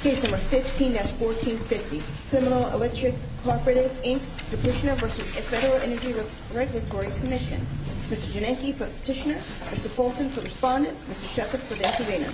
Case No. 15-1450 Seminole Electric Cooperative, Inc. Petitioner v. Federal Energy Regulatory Commission Mr. Janenky for the petitioner, Mr. Fulton for the respondent, Mr. Shepard for the intervener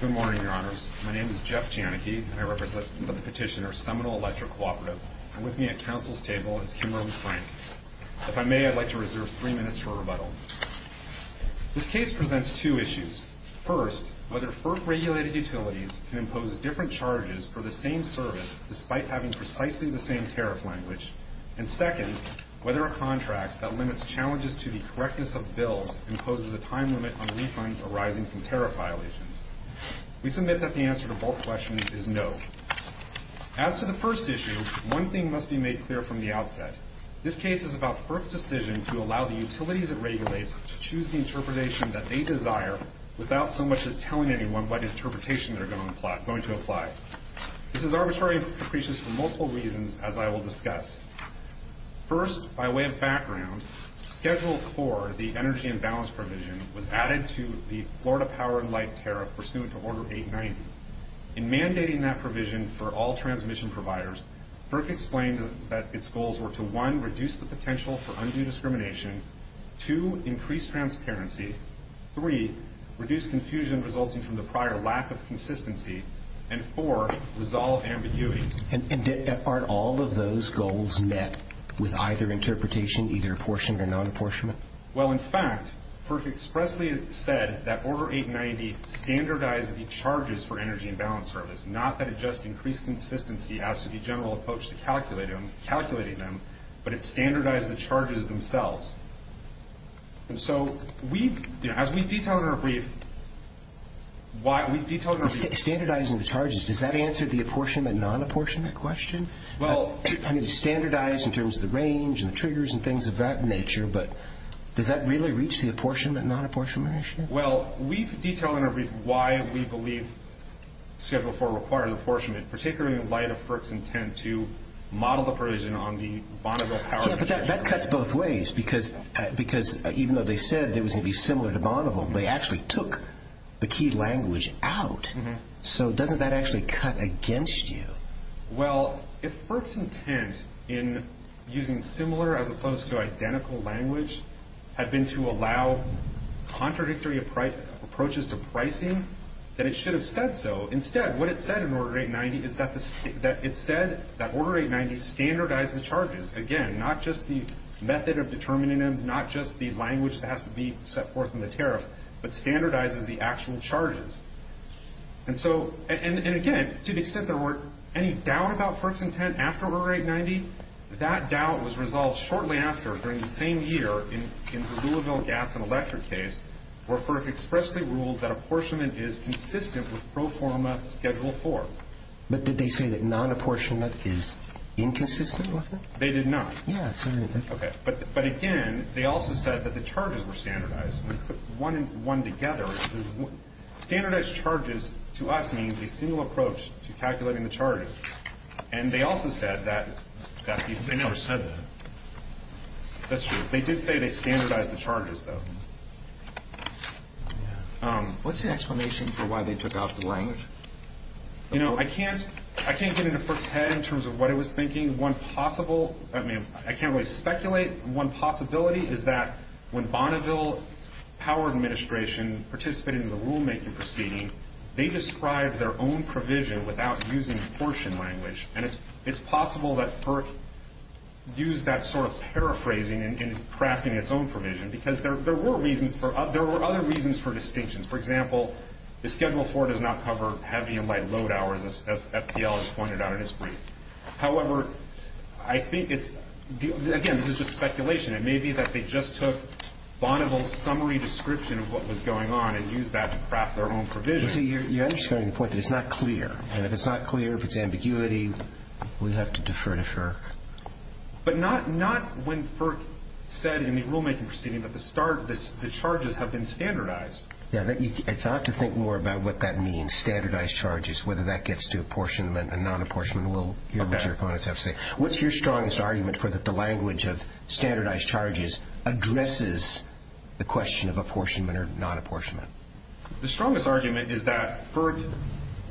Good morning, your honors. My name is Jeff Janenky and I represent the petitioner Seminole Electric Cooperative, and with me at counsel's table is Kimberley Frank. If I may, I'd like to reserve three minutes for a rebuttal. This case presents two issues. First, whether FERC-regulated utilities can impose different charges for the same service despite having precisely the same tariff language. And second, whether a contract that limits challenges to the correctness of bills imposes a time limit on refunds arising from tariff violations. We submit that the answer to both questions is no. As to the first issue, one thing must be made clear from the outset. This case is about FERC's decision to allow the utilities it regulates to choose the interpretation that they desire without so much as telling anyone what interpretation they're going to apply. This is arbitrary and capricious for multiple reasons, as I will discuss. First, by way of background, Schedule IV, the energy imbalance provision, was added to the Florida Power and Light Tariff pursuant to Order 890. In mandating that provision for all transmission providers, FERC explained that its goals were to 1. Reduce the potential for undue discrimination, 2. Increase transparency, 3. Reduce confusion resulting from the prior lack of consistency, and 4. Resolve ambiguities. And aren't all of those goals met with either interpretation, either apportioned or non-apportionment? Well, in fact, FERC expressly said that Order 890 standardized the charges for energy imbalance service, not that it just increased consistency as to the general approach to calculating them, but it standardized the charges themselves. And so, as we detail in our brief, why we've detailed in our brief Standardizing the charges, does that answer the apportionment and non-apportionment question? Well I mean, standardized in terms of the range and the triggers and things of that nature, but does that really reach the apportionment and non-apportionment issue? Well, we've detailed in our brief why we believe Schedule 4 requires apportionment, particularly in light of FERC's intent to model the provision on the Bonneville Power... Yeah, but that cuts both ways, because even though they said it was going to be similar to Bonneville, they actually took the key language out. So, doesn't that actually cut against you? Well, if FERC's intent in using similar as opposed to identical language had been to allow contradictory approaches to pricing, then it should have said so. Instead, what it said in Order 890 is that it said that Order 890 standardized the charges. Again, not just the method of determining them, not just the language that has to be set forth in the tariff, but standardizes the actual charges. And again, to the extent there were any doubt about FERC's intent after Order 890, that doubt was resolved shortly after, during the same year, in the Louisville Gas and Electric case, where FERC expressly ruled that apportionment is consistent with Pro Forma Schedule 4. But did they say that non-apportionment is inconsistent with it? They did not. Yeah, sorry. But again, they also said that the charges were standardized. When you put one together, standardized charges to us means a single approach to calculating the charges. And they also said that... They never said that. That's true. They did say they standardized the charges, though. What's the explanation for why they took out the language? You know, I can't get into FERC's head in terms of what it was thinking. One possible... I mean, I can't really speculate. One possibility is that when Bonneville Power Administration participated in the rulemaking proceeding, they described their own provision without using apportion language. And it's possible that FERC used that sort of paraphrasing in crafting its own provision. Because there were other reasons for distinctions. For example, the Schedule 4 does not cover heavy and light load hours, as FTL has pointed out in his brief. However, I think it's... Again, this is just speculation. It may be that they just took Bonneville's summary description of what was going on and used that to craft their own provision. You see, you're understanding the point that it's not clear. And if it's not clear, if it's ambiguity, we'd have to defer to FERC. But not when FERC said in the rulemaking proceeding that the charges have been standardized. Yeah, I'd have to think more about what that means, standardized charges, whether that gets to apportionment and non-apportionment. We'll hear what your opponents have to say. What's your strongest argument for the language of standardized charges addresses the question of apportionment or non-apportionment? The strongest argument is that FERC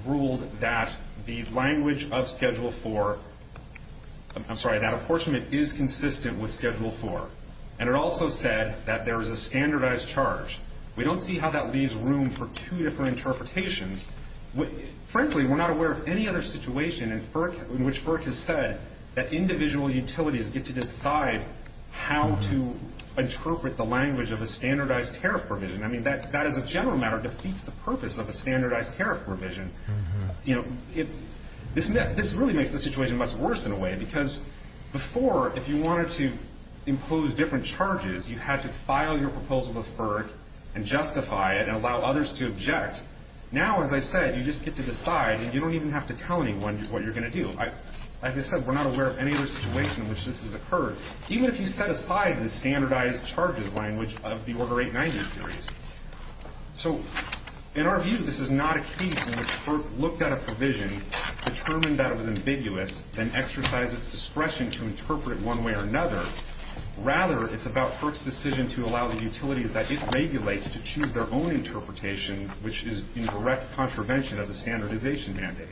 ruled that the language of Schedule 4... I'm sorry, that apportionment is consistent with Schedule 4. And it also said that there is a standardized charge. We don't see how that leaves room for two different interpretations. Frankly, we're not aware of any other situation in which FERC has said that individual utilities get to decide how to interpret the language of a standardized tariff provision. I mean, that as a general matter defeats the purpose of a standardized tariff provision. This really makes the situation much worse in a way. Because before, if you wanted to impose different charges, you had to file your proposal to FERC and justify it and allow others to object. Now, as I said, you just get to decide, and you don't even have to tell anyone what you're going to do. As I said, we're not aware of any other situation in which this has occurred. Even if you set aside the standardized charges language of the Order 890 series. So, in our view, this is not a case in which FERC looked at a provision, determined that it was ambiguous, then exercised its discretion to interpret it one way or another. Rather, it's about FERC's decision to allow the utilities that it regulates to choose their own interpretation, which is in direct contravention of the standardization mandate.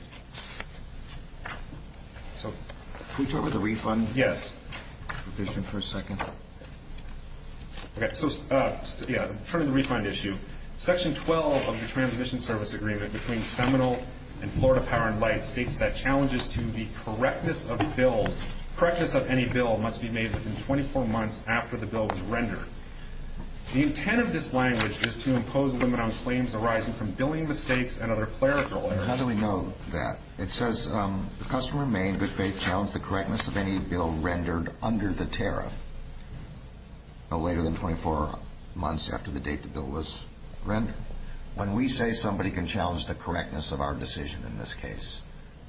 So, can we talk about the refund? Yes. Provision for a second. Okay, so, yeah, turning to the refund issue. Section 12 of the Transmission Service Agreement between Seminole and Florida Power & Light states that challenges to the correctness of bills, correctness of any bill must be made within 24 months after the bill was rendered. The intent of this language is to impose a limit on claims arising from billing mistakes and other clerical errors. How do we know that? It says, the customer may, in good faith, challenge the correctness of any bill rendered under the tariff no later than 24 months after the date the bill was rendered. When we say somebody can challenge the correctness of our decision in this case,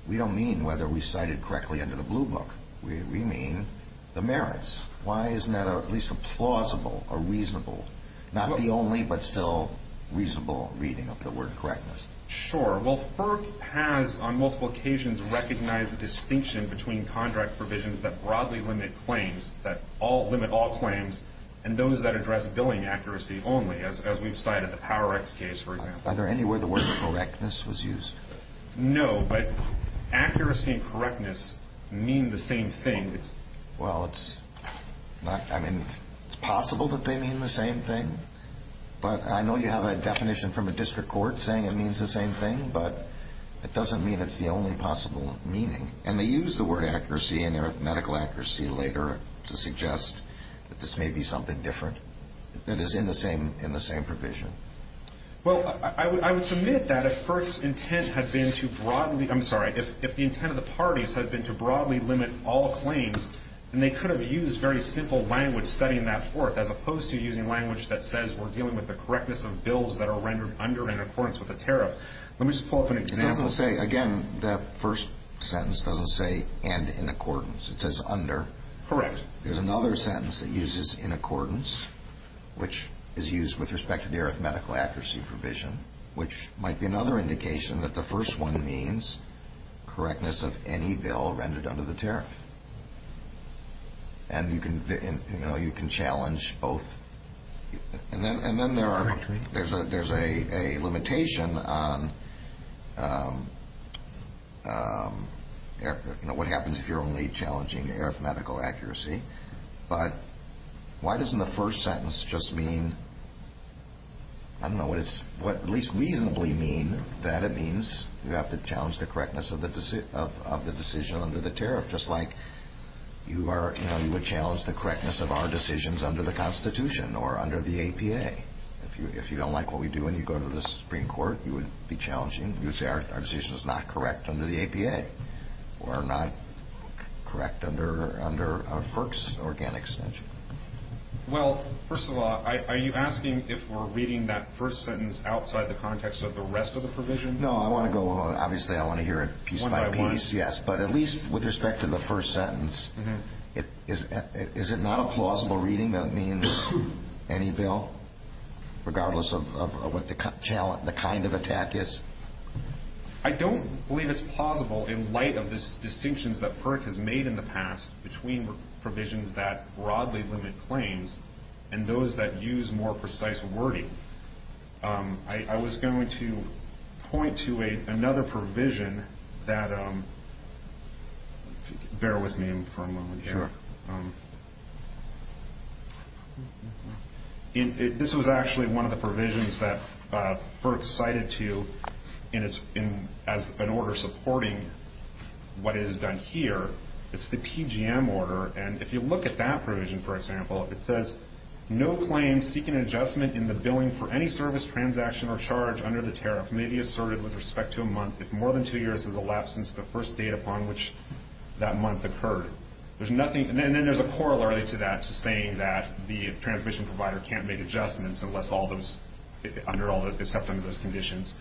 we don't mean whether we cited correctly under the blue book. We mean the merits. Why isn't that at least a plausible or reasonable, not the only but still reasonable reading of the word correctness? Sure. Well, FERC has, on multiple occasions, recognized the distinction between contract provisions that broadly limit claims, that limit all claims, and those that address billing accuracy only, as we've cited the Power X case, for example. Are there any where the word correctness was used? No, but accuracy and correctness mean the same thing. Well, it's not, I mean, it's possible that they mean the same thing, but I know you have a definition from a district court saying it means the same thing, but it doesn't mean it's the only possible meaning. And they use the word accuracy and arithmetical accuracy later to suggest that this may be something different that is in the same provision. Well, I would submit that if FERC's intent had been to broadly, I'm sorry, if the intent of the parties had been to broadly limit all claims, then they could have used very simple language setting that forth as opposed to using language that says we're dealing with the correctness of bills that are rendered under and in accordance with a tariff. Let me just pull up an example. It doesn't say, again, that first sentence doesn't say and in accordance. It says under. Correct. There's another sentence that uses in accordance, which is used with respect to the arithmetical accuracy provision, which might be another indication that the first one means correctness of any bill rendered under the tariff. And, you know, you can challenge both. And then there's a limitation on what happens if you're only challenging arithmetical accuracy. But why doesn't the first sentence just mean, I don't know what it's, what at least reasonably mean that it means you have to challenge the correctness of the decision under the tariff, just like you are, you know, you would challenge the correctness of our decisions under the Constitution or under the APA. If you don't like what we do when you go to the Supreme Court, you would be challenging, you would say our decision is not correct under the APA or not correct under FERC's organic extension. Well, first of all, are you asking if we're reading that first sentence outside the context of the rest of the provision? No, I want to go, obviously I want to hear it piece by piece. One by one. Yes, but at least with respect to the first sentence, is it not a plausible reading that it means any bill, regardless of what the kind of attack is? I don't believe it's plausible in light of the distinctions that FERC has made in the past between provisions that broadly limit claims and those that use more precise wording. I was going to point to another provision that, bear with me for a moment here. This was actually one of the provisions that FERC cited to you as an order supporting what is done here. It's the PGM order. And if you look at that provision, for example, it says, no claim seeking adjustment in the billing for any service, transaction, or charge under the tariff may be asserted with respect to a month if more than two years has elapsed since the first date upon which that month occurred. And then there's a corollary to that, to saying that the transmission provider can't make adjustments unless all those, except under those conditions.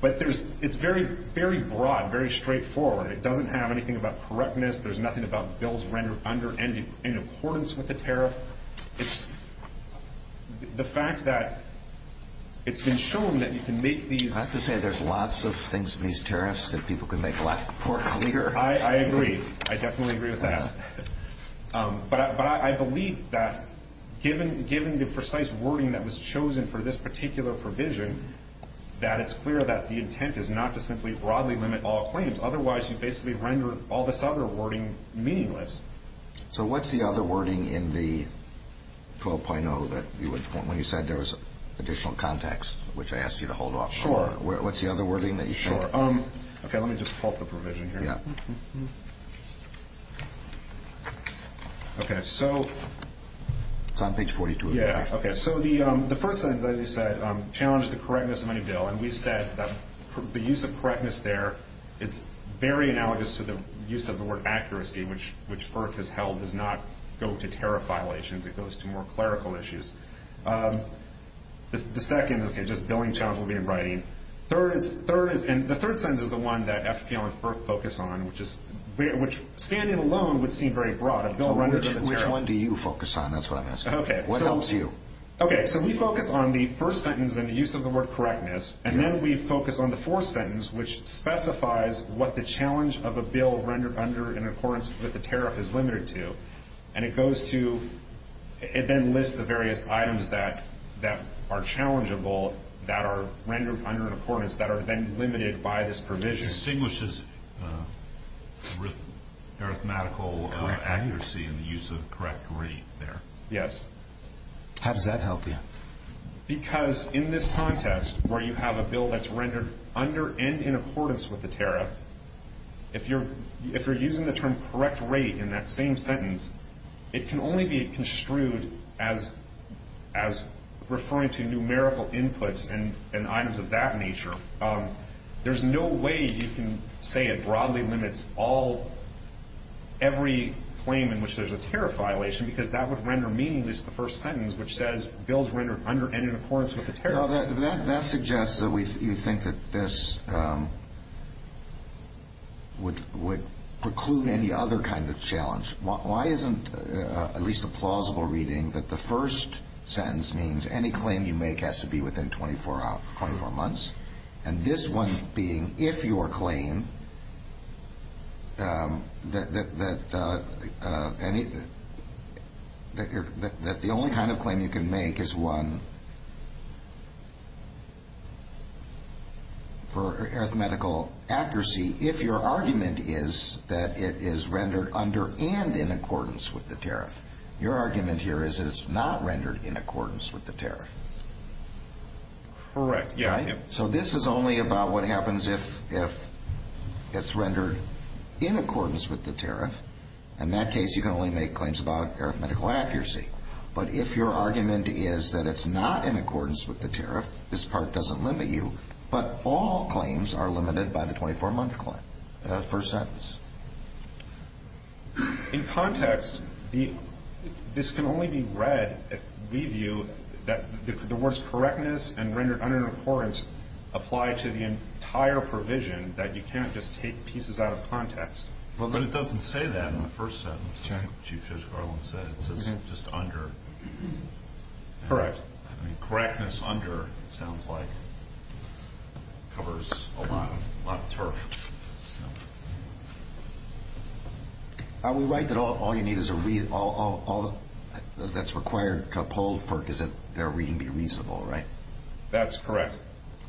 But it's very broad, very straightforward. It doesn't have anything about correctness. There's nothing about bills rendered in accordance with the tariff. It's the fact that it's been shown that you can make these... I have to say there's lots of things in these tariffs that people can make a lot more clear. I agree. I definitely agree with that. But I believe that given the precise wording that was chosen for this particular provision, that it's clear that the intent is not to simply broadly limit all claims. Otherwise, you basically render all this other wording meaningless. So what's the other wording in the 12.0 when you said there was additional context, which I asked you to hold off for? Sure. What's the other wording that you think? Okay, let me just pull up the provision here. Okay, so... It's on page 42. Okay, so the first sentence, as you said, challenged the correctness of any bill. And we said that the use of correctness there is very analogous to the use of the word accuracy, which FERC has held does not go to tariff violations. It goes to more clerical issues. The second... Okay, just billing challenge will be in writing. Third is... And the third sentence is the one that FPL and FERC focus on, which standing alone would seem very broad. Which one do you focus on as far as... Okay, so... What helps you? Okay, so we focus on the first sentence and the use of the word correctness. And then we focus on the fourth sentence, which specifies what the challenge of a bill rendered under in accordance with the tariff is limited to. And it goes to... It then lists the various items that are challengeable, that are rendered under in accordance, that are then limited by this provision. It distinguishes arithmetical accuracy and the use of correct grade there. Yes. How does that help you? Because in this context, where you have a bill that's rendered under and in accordance with the tariff, if you're using the term correct rate in that same sentence, it can only be construed as referring to numerical inputs and items of that nature. There's no way you can say it broadly limits all... every claim in which there's a tariff violation, because that would render meaningless the first sentence, which says bills rendered under and in accordance with the tariff. That suggests that you think that this... would preclude any other kind of challenge. Why isn't at least a plausible reading that the first sentence means any claim you make has to be within 24 months, and this one being if your claim... that the only kind of claim you can make is one... for arithmetical accuracy if your argument is that it is rendered under and in accordance with the tariff. Your argument here is that it's not rendered in accordance with the tariff. Correct. Yeah. So this is only about what happens if... if it's rendered in accordance with the tariff. In that case, you can only make claims about arithmetical accuracy. But if your argument is that it's not rendered in accordance with the tariff, this part doesn't limit you. But all claims are limited by the 24-month claim, the first sentence. In context, this can only be read, we view, that the words correctness and rendered under and in accordance apply to the entire provision that you can't just take pieces out of context. But it doesn't say that in the first sentence. Chief Judge Garland said it says just under. Correct. Correctness under, it sounds like, covers a lot of turf. Are we right that all you need is a read... all that's required to uphold is that their reading be reasonable, right? That's correct.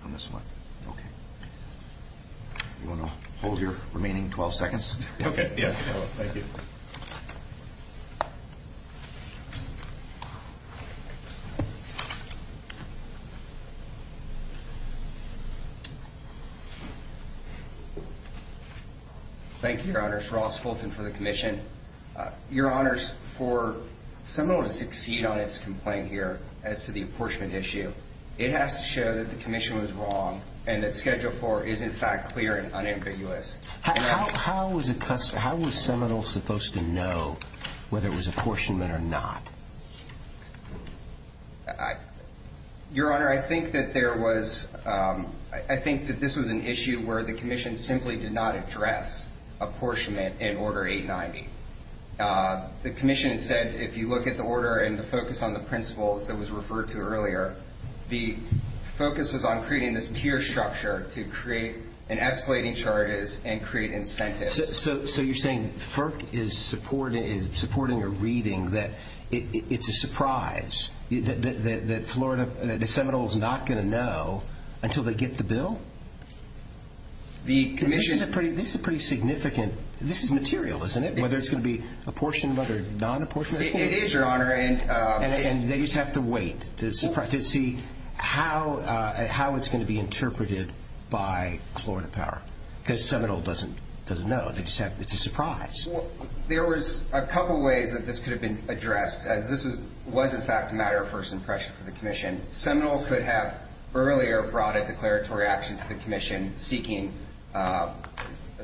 On this one. Okay. You want to hold your remaining 12 seconds? Okay. Yes. Thank you. Thank you. Thank you, Your Honors. Ross Fulton for the Commission. Your Honors, for Seminole to succeed on its complaint here as to the apportionment issue, it has to show that the Commission was wrong and that Schedule 4 is, in fact, clear and unambiguous. How was Seminole supposed to know whether it was apportionment or not? I... Your Honor, I think that there was... I think that this was an issue where the Commission simply did not address apportionment in Order 890. The Commission said, if you look at the order and the focus on the principles that was referred to earlier, the focus was on creating this tier structure to create an escalating charges and create incentives. So you're saying FERC is supporting a reading that it's a surprise that Florida... that Seminole's not going to know until they get the bill? The Commission... This is pretty significant. This is material, isn't it? Whether it's going to be apportionment or non-apportionment. It is, Your Honor. And they just have to wait to see how it's going to be interpreted by Florida Power. Because Seminole doesn't know. It's a surprise. Well, there was a couple ways that this could have been addressed as this was, in fact, a matter of first impression for the Commission. Seminole could have earlier brought a declaratory action to the Commission seeking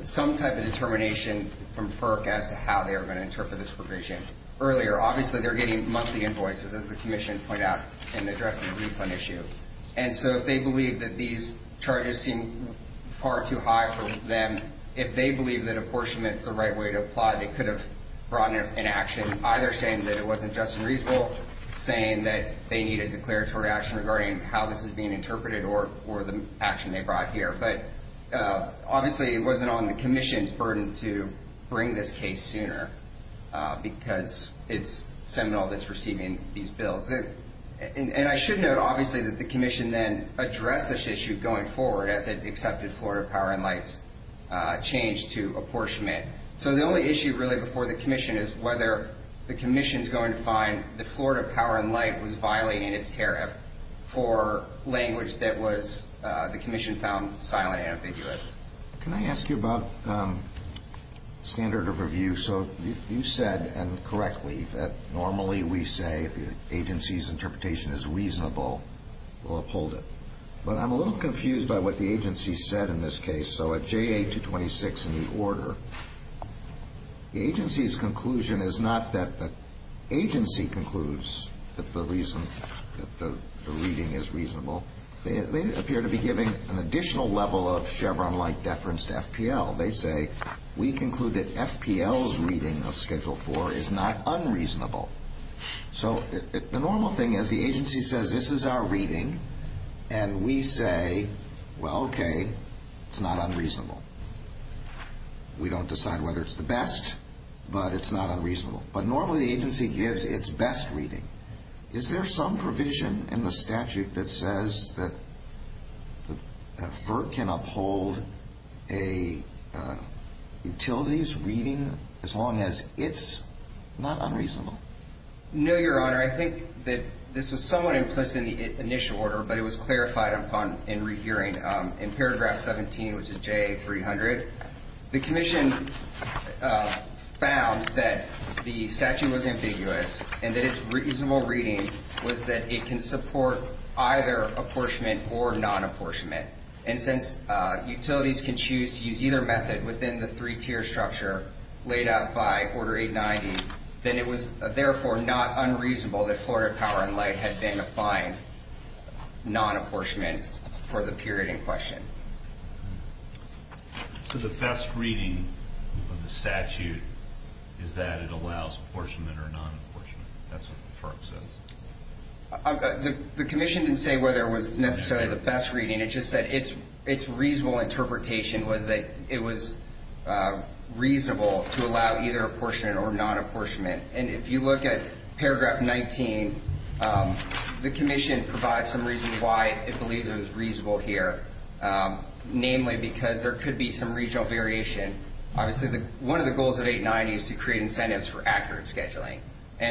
some type of determination from FERC as to how they were going to interpret this provision earlier. Obviously, they're getting monthly invoices, as the Commission pointed out, in addressing the refund issue. And so if they believe that these charges seem far too high for them, if they believe that apportionment is the right way to apply it, they could have brought an action either saying that it wasn't just and reasonable, saying that they need a declaratory action regarding how this is being interpreted or the action they brought here. But obviously, it wasn't on the Commission's burden to bring this case sooner. Because it's Seminole that's receiving these bills. And I should note, obviously, that the Commission then addressed this issue going forward as it accepted Florida Power & Light's change to apportionment. So the only issue really before the Commission is whether the Commission's going to find that Florida Power & Light was violating its tariff for language that the Commission found silent and ambiguous. Can I ask you about standard of review? So you said, and correctly, that normally we say that the agency's interpretation is reasonable. We'll uphold it. But I'm a little confused by what the agency said in this case. So at JA-226 in the order, the agency's conclusion is not that the agency concludes that the reason that the reading is reasonable. They appear to be giving an additional level of Chevron-like deference to FPL. They say, we conclude that FPL's reading of Schedule 4 is not unreasonable. So the normal thing is the agency says, this is our reading, and we say, well, okay, it's not unreasonable. We don't decide whether it's the best, but it's not unreasonable. But normally the agency gives its best reading. Is there some provision in the statute that says that FERC can uphold a utilities reading as long as it's not unreasonable? No, Your Honor. I think that this was somewhat implicit in the initial order, but it was clarified upon in re-hearing in paragraph 17, which is JA-300. The Commission found that the statute was ambiguous and that its reasonable reading was that it can support either apportionment or non-apportionment. And since utilities can choose to use either method within the three-tier structure laid out by Order 890, then it was therefore not unreasonable that Florida Power & Light had been defined non-apportionment for the period in question. So the best reading of the statute is that it allows apportionment or non-apportionment. That's what FERC says. The Commission didn't say whether it was necessarily the best reading. It just said its reasonable interpretation was that it was reasonable to allow either apportionment or non-apportionment. And if you look at paragraph 19, the Commission provides some reasons why it believes it was reasonable here, namely because there could be some regional variation. One of the goals of 890 is to create incentives for accurate scheduling.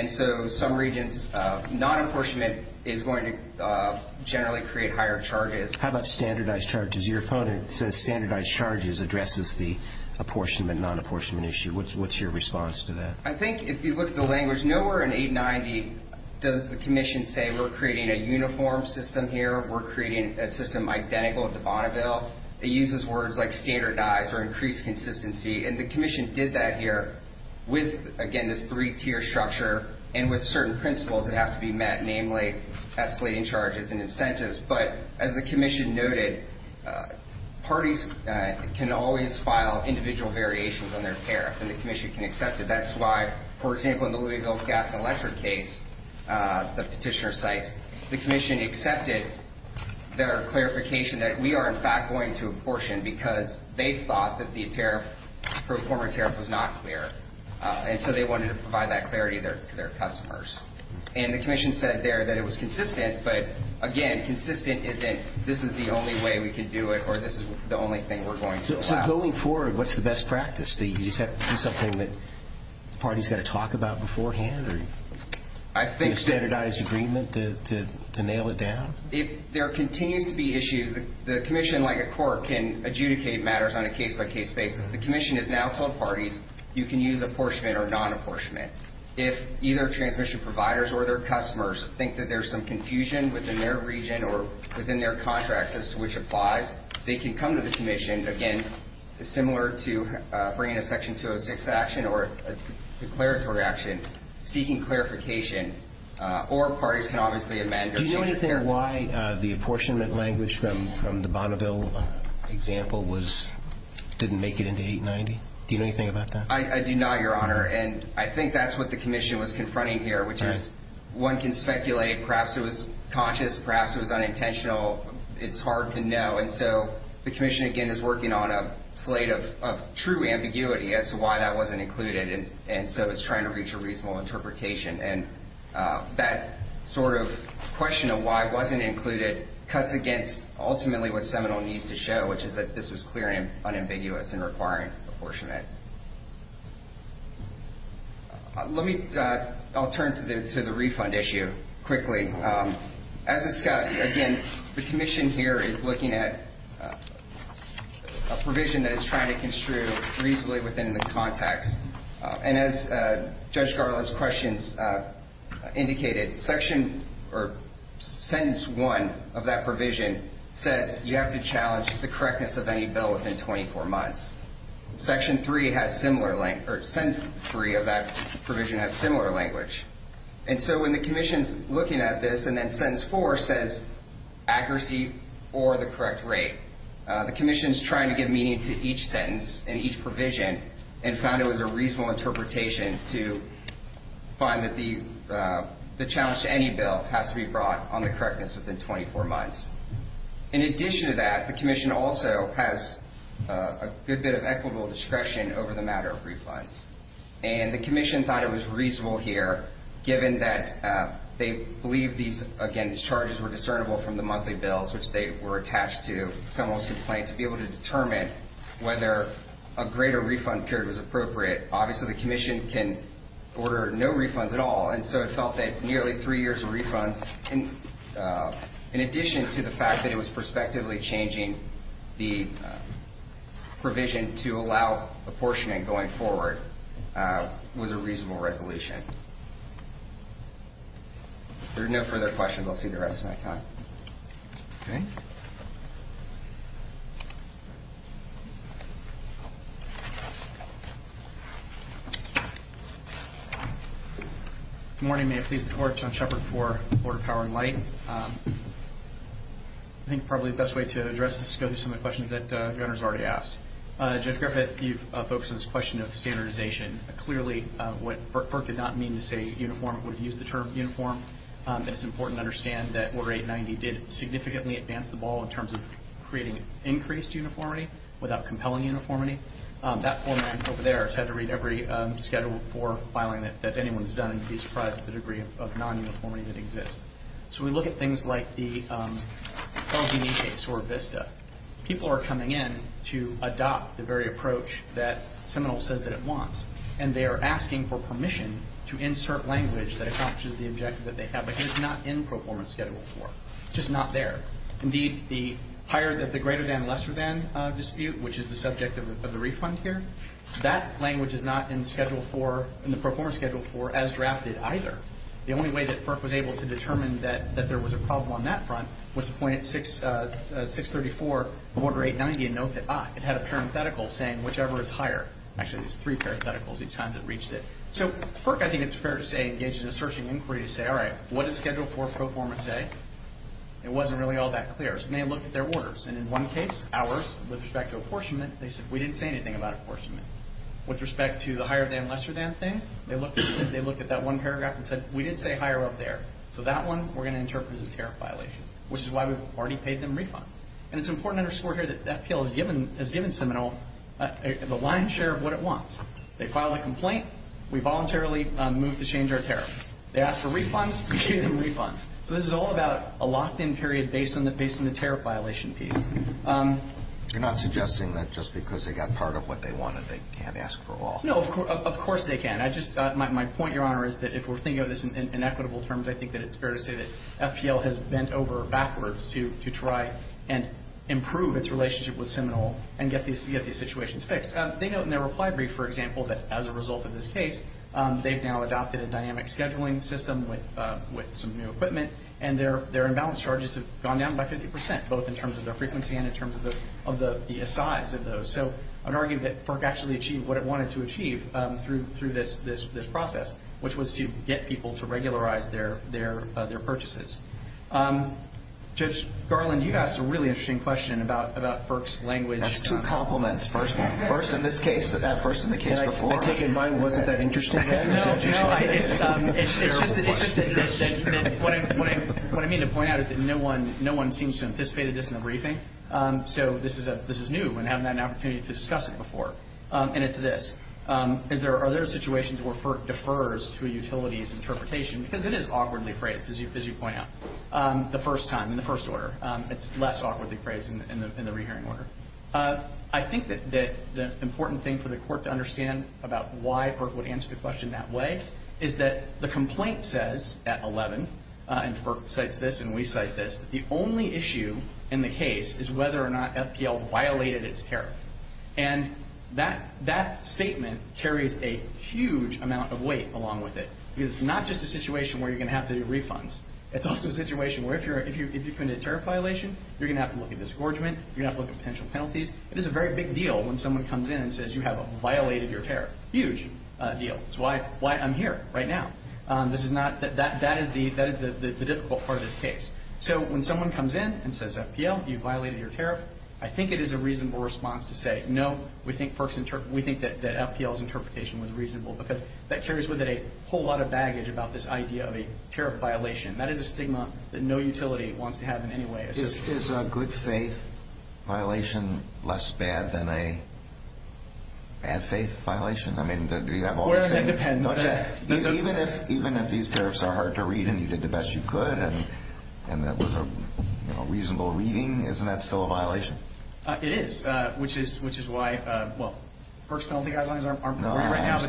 So some regions, non-apportionment is going to generally create higher charges. How about standardized charges? Your opponent says standardized charges addresses the apportionment, non-apportionment issue. What's your response to that? I think if you look at the language, nowhere in 890 does the Commission say we're creating a uniform system here. We're creating a system identical to Bonneville. It uses words like standardized or increased consistency. And the Commission did that here with, again, this three-tier structure and with certain principles that have to be met, namely escalating charges and incentives. But as the Commission noted, parties can always file individual variations on their tariff, and the Commission can accept it. That's why, for example, in the Louisville Gas and Electric case, the petitioner cites, the Commission accepted their clarification that we are in fact going to apportion because they thought that the tariff for a former tariff was not clear. And so they wanted to provide that clarity to their customers. And the Commission said there that it was consistent, but, again, consistent isn't this is the only way we can do it, or this is the only thing we're going to allow. So going forward, what's the best practice? Do you just have to do something that the party's got to talk about beforehand? A standardized agreement to nail it down? If there continues to be issues, the Commission, like a court, can adjudicate matters on a case-by-case basis. The Commission has now told parties you can use apportionment or non-apportionment if either transmission providers or their customers think that there's some confusion within their region or within their contracts as to which applies, they can come to the Commission, again, similar to bringing a Section 206 action or a declaratory action, seeking clarification. Or parties can obviously amend or change their... Do you know anything why the apportionment language from the Bonneville example didn't make it into 890? Do you know anything about that? I do not, Your Honor, and I think that's what the Commission was confronting here, which is one can speculate, perhaps it was conscious, perhaps it was unintentional. It's hard to know, and so the Commission, again, is working on a slate of true ambiguity as to why that wasn't included, and so it's trying to reach a reasonable interpretation. And that sort of question of why it wasn't included cuts against, ultimately, what Seminole needs to show, which is that this was clearly unambiguous and requiring apportionment. Let me... I'll turn to the refund issue quickly. As discussed, again, the Commission here is looking at a provision that it's trying to construe reasonably within the context. And as Judge Garland's questions indicated, sentence one of that provision says you have to challenge the correctness of any bill within 24 months. Section three has similar language, or sentence three of that provision has similar language. And so when the Commission's looking at this and then sentence four says accuracy or the correct rate, the Commission's trying to give meaning to each sentence and each provision and found it was a reasonable interpretation to find that the challenge to any bill has to be brought on the correctness within 24 months. In addition to that, the Commission also has a good bit of equitable discretion over the matter of refunds. And the Commission thought it was reasonable here, given that they believe these again, these charges were discernible from the monthly bills, which they were attached to someone's complaint, to be able to determine whether a greater refund period was appropriate. Obviously the Commission can order no refunds at all, and so it felt that nearly three years of refunds in addition to the fact that it was retrospectively changing the provision to allow apportionment going forward was a reasonable resolution. If there are no further questions, I'll see you the rest of my time. Good morning. May it please the Court, John Shepard for the Board of Power and Light. I think probably the best way to address this is to go through some of the questions that Governor's already asked. Judge Griffith, you've focused on this question of standardization. Clearly what FERC did not mean to say uniform would use the term uniform. It's important to understand that Order 890 did significantly advance the ball in terms of creating increased uniformity without compelling uniformity. That format over there has had to read every Schedule 4 filing that anyone's done, and you'd be surprised at the degree of If you look at things like the Carl G. Neese case or Vista, people are coming in to adopt the very approach that Seminole says that it wants, and they are asking for permission to insert language that accomplishes the objective that they have, but it's not in Performance Schedule 4. It's just not there. Indeed, the greater than, lesser than dispute, which is the subject of the refund here, that language is not in the Performance Schedule 4 as drafted either. The only way that FERC was able to determine that there was a problem on that front was to point at 634, Order 890 and note that, ah, it had a parenthetical saying whichever is higher. Actually, there's three parentheticals each time it reached it. So FERC, I think it's fair to say, engaged in a searching inquiry to say, all right, what did Schedule 4 performance say? It wasn't really all that clear, so they looked at their orders, and in one case, ours, with respect to apportionment, they said, we didn't say anything about apportionment. With respect to the higher than, lesser than thing, they looked at that one paragraph and said, we did say higher up there, so that one, we're going to interpret as a tariff violation, which is why we've already paid them a refund. And it's important to underscore here that FPL has given Seminole the lion's share of what it wants. They filed a complaint, we voluntarily moved to change our tariff. They asked for refunds, we gave them refunds. So this is all about a locked-in period based on the tariff violation piece. Um, you're not suggesting that just because they got part of what they wanted they can't ask for all? No, of course they can. I just, my point, Your Honor, is that if we're thinking of this in equitable terms, I think that it's fair to say that FPL has bent over backwards to try and improve its relationship with Seminole and get these situations fixed. They note in their reply brief, for example, that as a result of this case, they've now adopted a dynamic scheduling system with some new equipment, and their imbalance charges have gone down by 50%, both in terms of their frequency and in terms of the size of those. So, I would argue that FERC actually achieved what it wanted to achieve through this process, which was to get people to regularize their purchases. Judge Garland, you asked a really interesting question about FERC's language. That's two compliments. First in this case, first in the case before. I take it mine wasn't that interesting then? No, no, it's just that what I mean to point out is that no one seems to have anticipated this in the briefing. So, this is new, and I haven't had an opportunity to discuss it before. And it's this. Are there situations where FERC defers to a utilities interpretation? Because it is awkwardly phrased, as you point out. The first time, in the first order. It's less awkwardly phrased in the re-hearing order. I think that the important thing for the Court to understand about why FERC would answer the question that way is that the complaint says, at 11, and FERC cites this and we cite this, the only issue in the case is whether or not FPL violated its tariff. And that statement carries a huge amount of weight along with it. Because it's not just a situation where you're going to have to do refunds. It's also a situation where if you commit a tariff violation, you're going to have to look at disgorgement, you're going to have to look at potential penalties. It is a very big deal when someone comes in and says you have violated your tariff. Huge deal. That's why I'm here, right now. That is the when someone comes in and says, FPL, you violated your tariff, I think it is a reasonable response to say, no, we think that FPL's interpretation was reasonable. Because that carries with it a whole lot of baggage about this idea of a tariff violation. That is a stigma that no utility wants to have in any way. Is a good faith violation less bad than a bad faith violation? I mean, do you have all the same... It depends. Even if these tariffs are hard to read and you did the best you could and that was a reasonable reading, isn't that still a violation? It is. Which is why, well, first penalty guidelines aren't provided right now.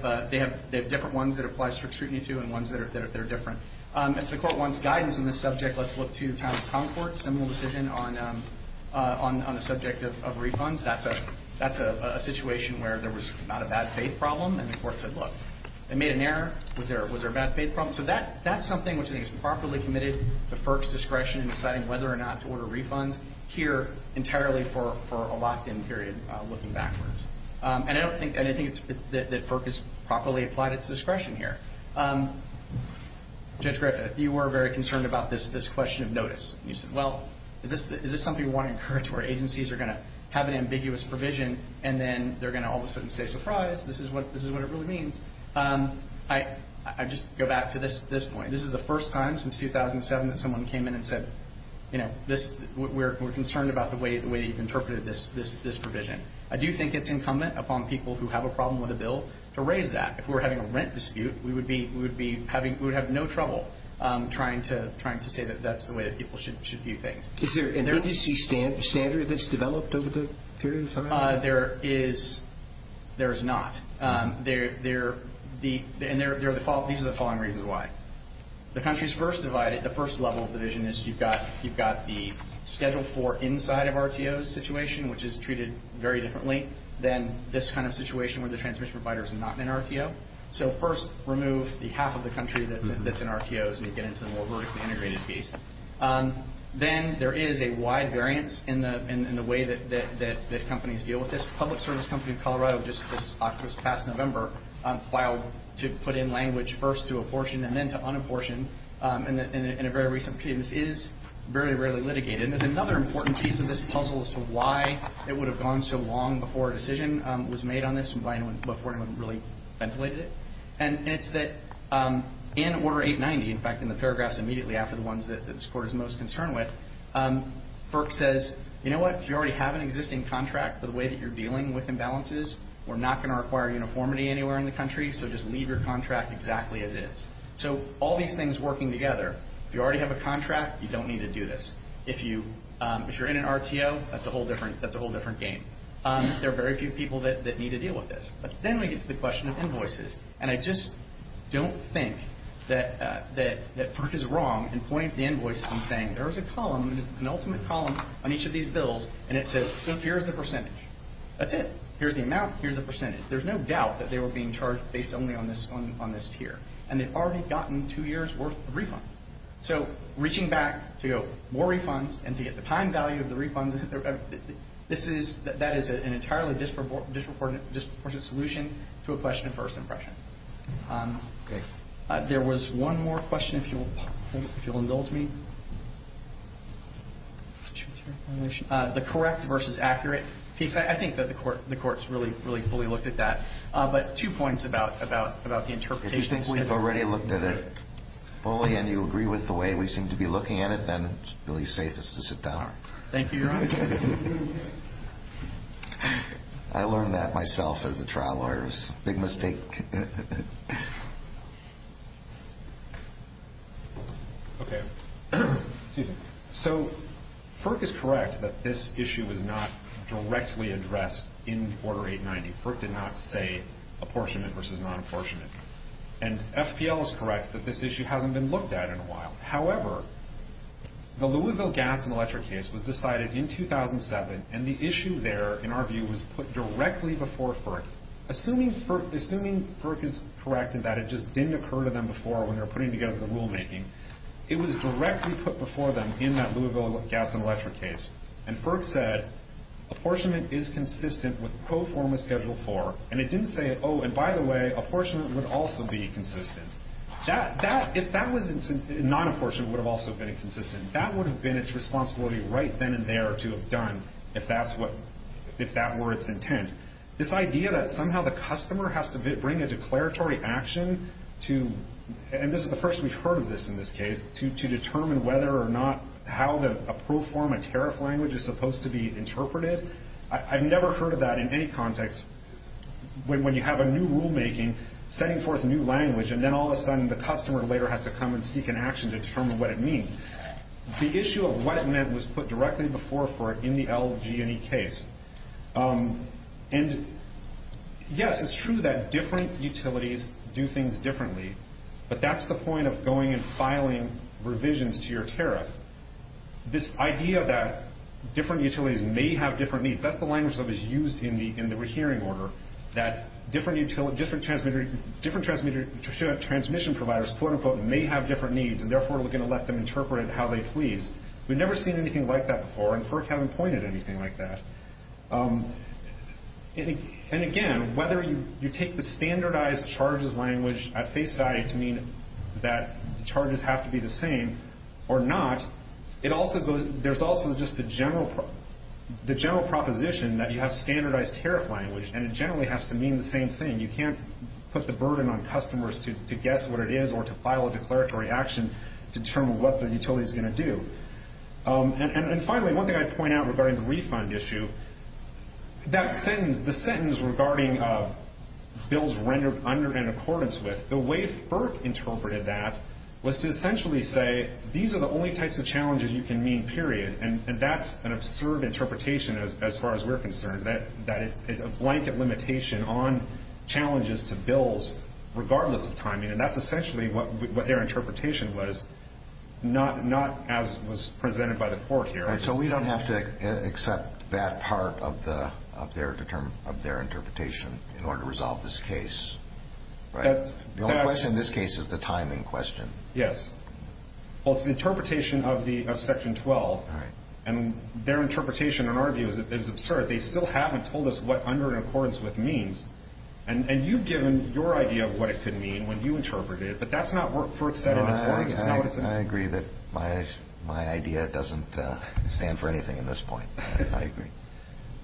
But they have different ones that apply strict scrutiny to and ones that are different. If the court wants guidance on this subject, let's look to Town of Concord. Similar decision on the subject of refunds. That's a situation where there was not a bad faith problem and the court said, look, they made an error. Was there a bad faith problem? That's something which I think is properly committed to FERC's discretion in deciding whether or not to order refunds here entirely for a locked-in period looking backwards. And I don't think that FERC has properly applied its discretion here. Judge Griffith, you were very concerned about this question of notice. You said, well, is this something we want to encourage where agencies are going to have an ambiguous provision and then they're going to all of a sudden say, surprise, this is what it really means. I just go back to this point. This is the first time since 2007 that someone came in and said, we're concerned about the way that you've interpreted this provision. I do think it's incumbent upon people who have a problem with a bill to raise that. If we were having a rent dispute, we would have no trouble trying to say that that's the way that people should view things. Is there an agency standard that's developed over the period of time? There is not. And these are the following reasons why. The first level of division is you've got the Schedule 4 inside of RTOs situation which is treated very differently than this kind of situation where the transmission provider is not an RTO. First, remove the half of the country that's in RTOs and get into the more vertically integrated piece. Then there is a wide variance in the way that companies deal with this. Public Service Company of Colorado just this past November filed to put in language first to apportion and then to unapportion in a very recent period. This is very rarely litigated. There's another important piece of this puzzle as to why it would have gone so long before a decision was made on this before anyone really ventilated it. And it's that in Order 890, in fact in the paragraphs immediately after the ones that this Court is most concerned with, FERC says, you know what? If you already have an existing contract for the way that you're dealing with imbalances, we're not going to require uniformity anywhere in the country so just leave your contract exactly as is. So all these things working together, if you already have a contract, you don't need to do this. If you're in an RTO, that's a whole different game. There are very few people that need to deal with this. But then we get to the question of invoices. And I just don't think that FERC is wrong in pointing at the invoice and saying, there's a column, an ultimate column on each of these bills and it says, here's the percentage. That's it. Here's the amount, here's the percentage. There's no doubt that they were being charged based only on this tier. And they've already gotten two years worth of refunds. So reaching back to more refunds and to get the time value of the refunds, that is an entirely disproportionate solution to a question of first impression. There was one more question, if you'll indulge me. The correct versus accurate piece. I think that the court's really fully looked at that. But two points about the interpretation. If you think we've already looked at it fully and you agree with the way we seem to be looking at it, then it's really safest to sit down. Thank you, Your Honor. I learned that myself as a trial lawyer. It was a big mistake. Okay. So FERC is correct that this issue was not directly addressed in Order 890. FERC did not say apportionment versus non-apportionment. And FPL is correct that this issue hasn't been looked at in a while. However, the Louisville gas and electric case was decided in 2007, and the issue there, in our view, was put directly before FERC. Assuming FERC is correct in that it just didn't occur to them before when they were putting together the rulemaking. It was directly put before them in that Louisville gas and electric case. And FERC said apportionment is consistent with Pro Forma Schedule 4. And it didn't say, oh, and by the way, apportionment would also be inconsistent. If that was non-apportionment, it would have also been inconsistent. That would have been its responsibility right then and there to have done if that's what if that were its intent. This idea that somehow the customer has to bring a declaratory action to, and this is the first we've heard of this in this case, to determine whether or not how a Pro Forma tariff language is supposed to be interpreted, I've never heard of that in any context when you have a new rulemaking setting forth a new language, and then all of a sudden the customer later has to come and seek an action to determine what it means. The issue of what it meant was put directly before FERC in the LG&E case. And yes, it's true that different utilities do things differently, but that's the point of going and filing revisions to your tariff. This idea that different utilities may have different needs, that's the language that was used in the hearing order that different transmission providers may have different needs and therefore we're going to let them interpret it how they please. We've never seen anything like that before and FERC hasn't pointed to anything like that. And again, whether you take the standardized charges language at face value to mean that charges have to be the same or not, there's also just the general proposition that you have standardized tariff language and it generally has to mean the same thing. You can't put the burden on customers to guess what it is or to file a declaratory action to determine what the utility is going to do. And finally, one thing I'd point out regarding the refund issue, that sentence, the sentence regarding bills rendered under and in accordance with, the way FERC interpreted that was to essentially say these are the only types of challenges you can mean, period. And that's an absurd interpretation as far as we're concerned that it's a blanket limitation on challenges to bills regardless of timing. And that's essentially what their interpretation was not as presented by the court here. So we don't have to accept that part of their interpretation in order to resolve this case, right? The only question in this case is the timing question. Yes. Well, it's the interpretation of Section 12 and their interpretation in our view is absurd. They still haven't told us what under and accordance with means and you've given your idea of what it could mean when you interpret it but that's not what FERC said in its words. I agree that my idea doesn't stand for anything at this point. I agree.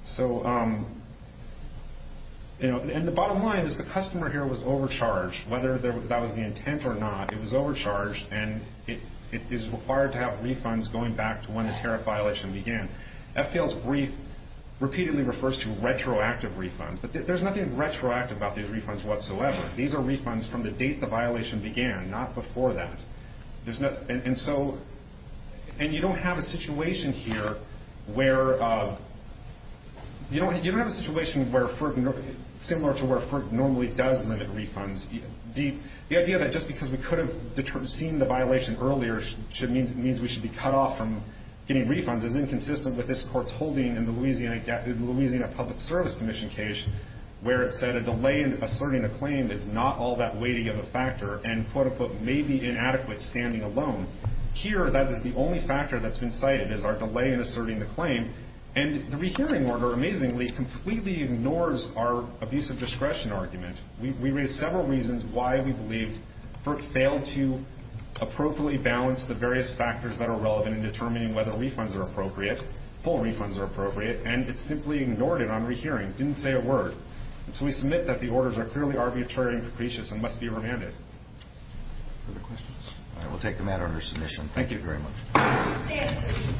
So, you know, and the bottom line is the customer here was overcharged. Whether that was the intent or not, it was overcharged and it is required to have refunds going back to when the tariff violation began. FPL's brief repeatedly refers to retroactive refunds but there's nothing retroactive about these refunds whatsoever. These are refunds from the date the violation began, not before that. And so, and you don't have a situation here where you don't have a situation where similar to where FERC normally does limit refunds. The idea that just because we could have seen the violation earlier means we should be cut off from getting refunds is inconsistent with this Court's holding in the Louisiana Public Service Commission case where it said a delay in asserting a claim is not all that weighty of a factor and, quote-unquote, may be inadequate standing alone. Here, that is the only factor that's been cited is our delay in asserting the claim. And the rehearing order, amazingly, completely ignores our abuse of discretion argument. We raise several reasons why we believe FERC failed to appropriately balance the various factors that are relevant in determining whether refunds are appropriate, full refunds are appropriate, and it simply ignored it on rehearing, didn't say a word. And so we submit that the orders are clearly arbitrary and capricious and must be remanded. Further questions? All right, we'll take the matter under submission. Thank you very much.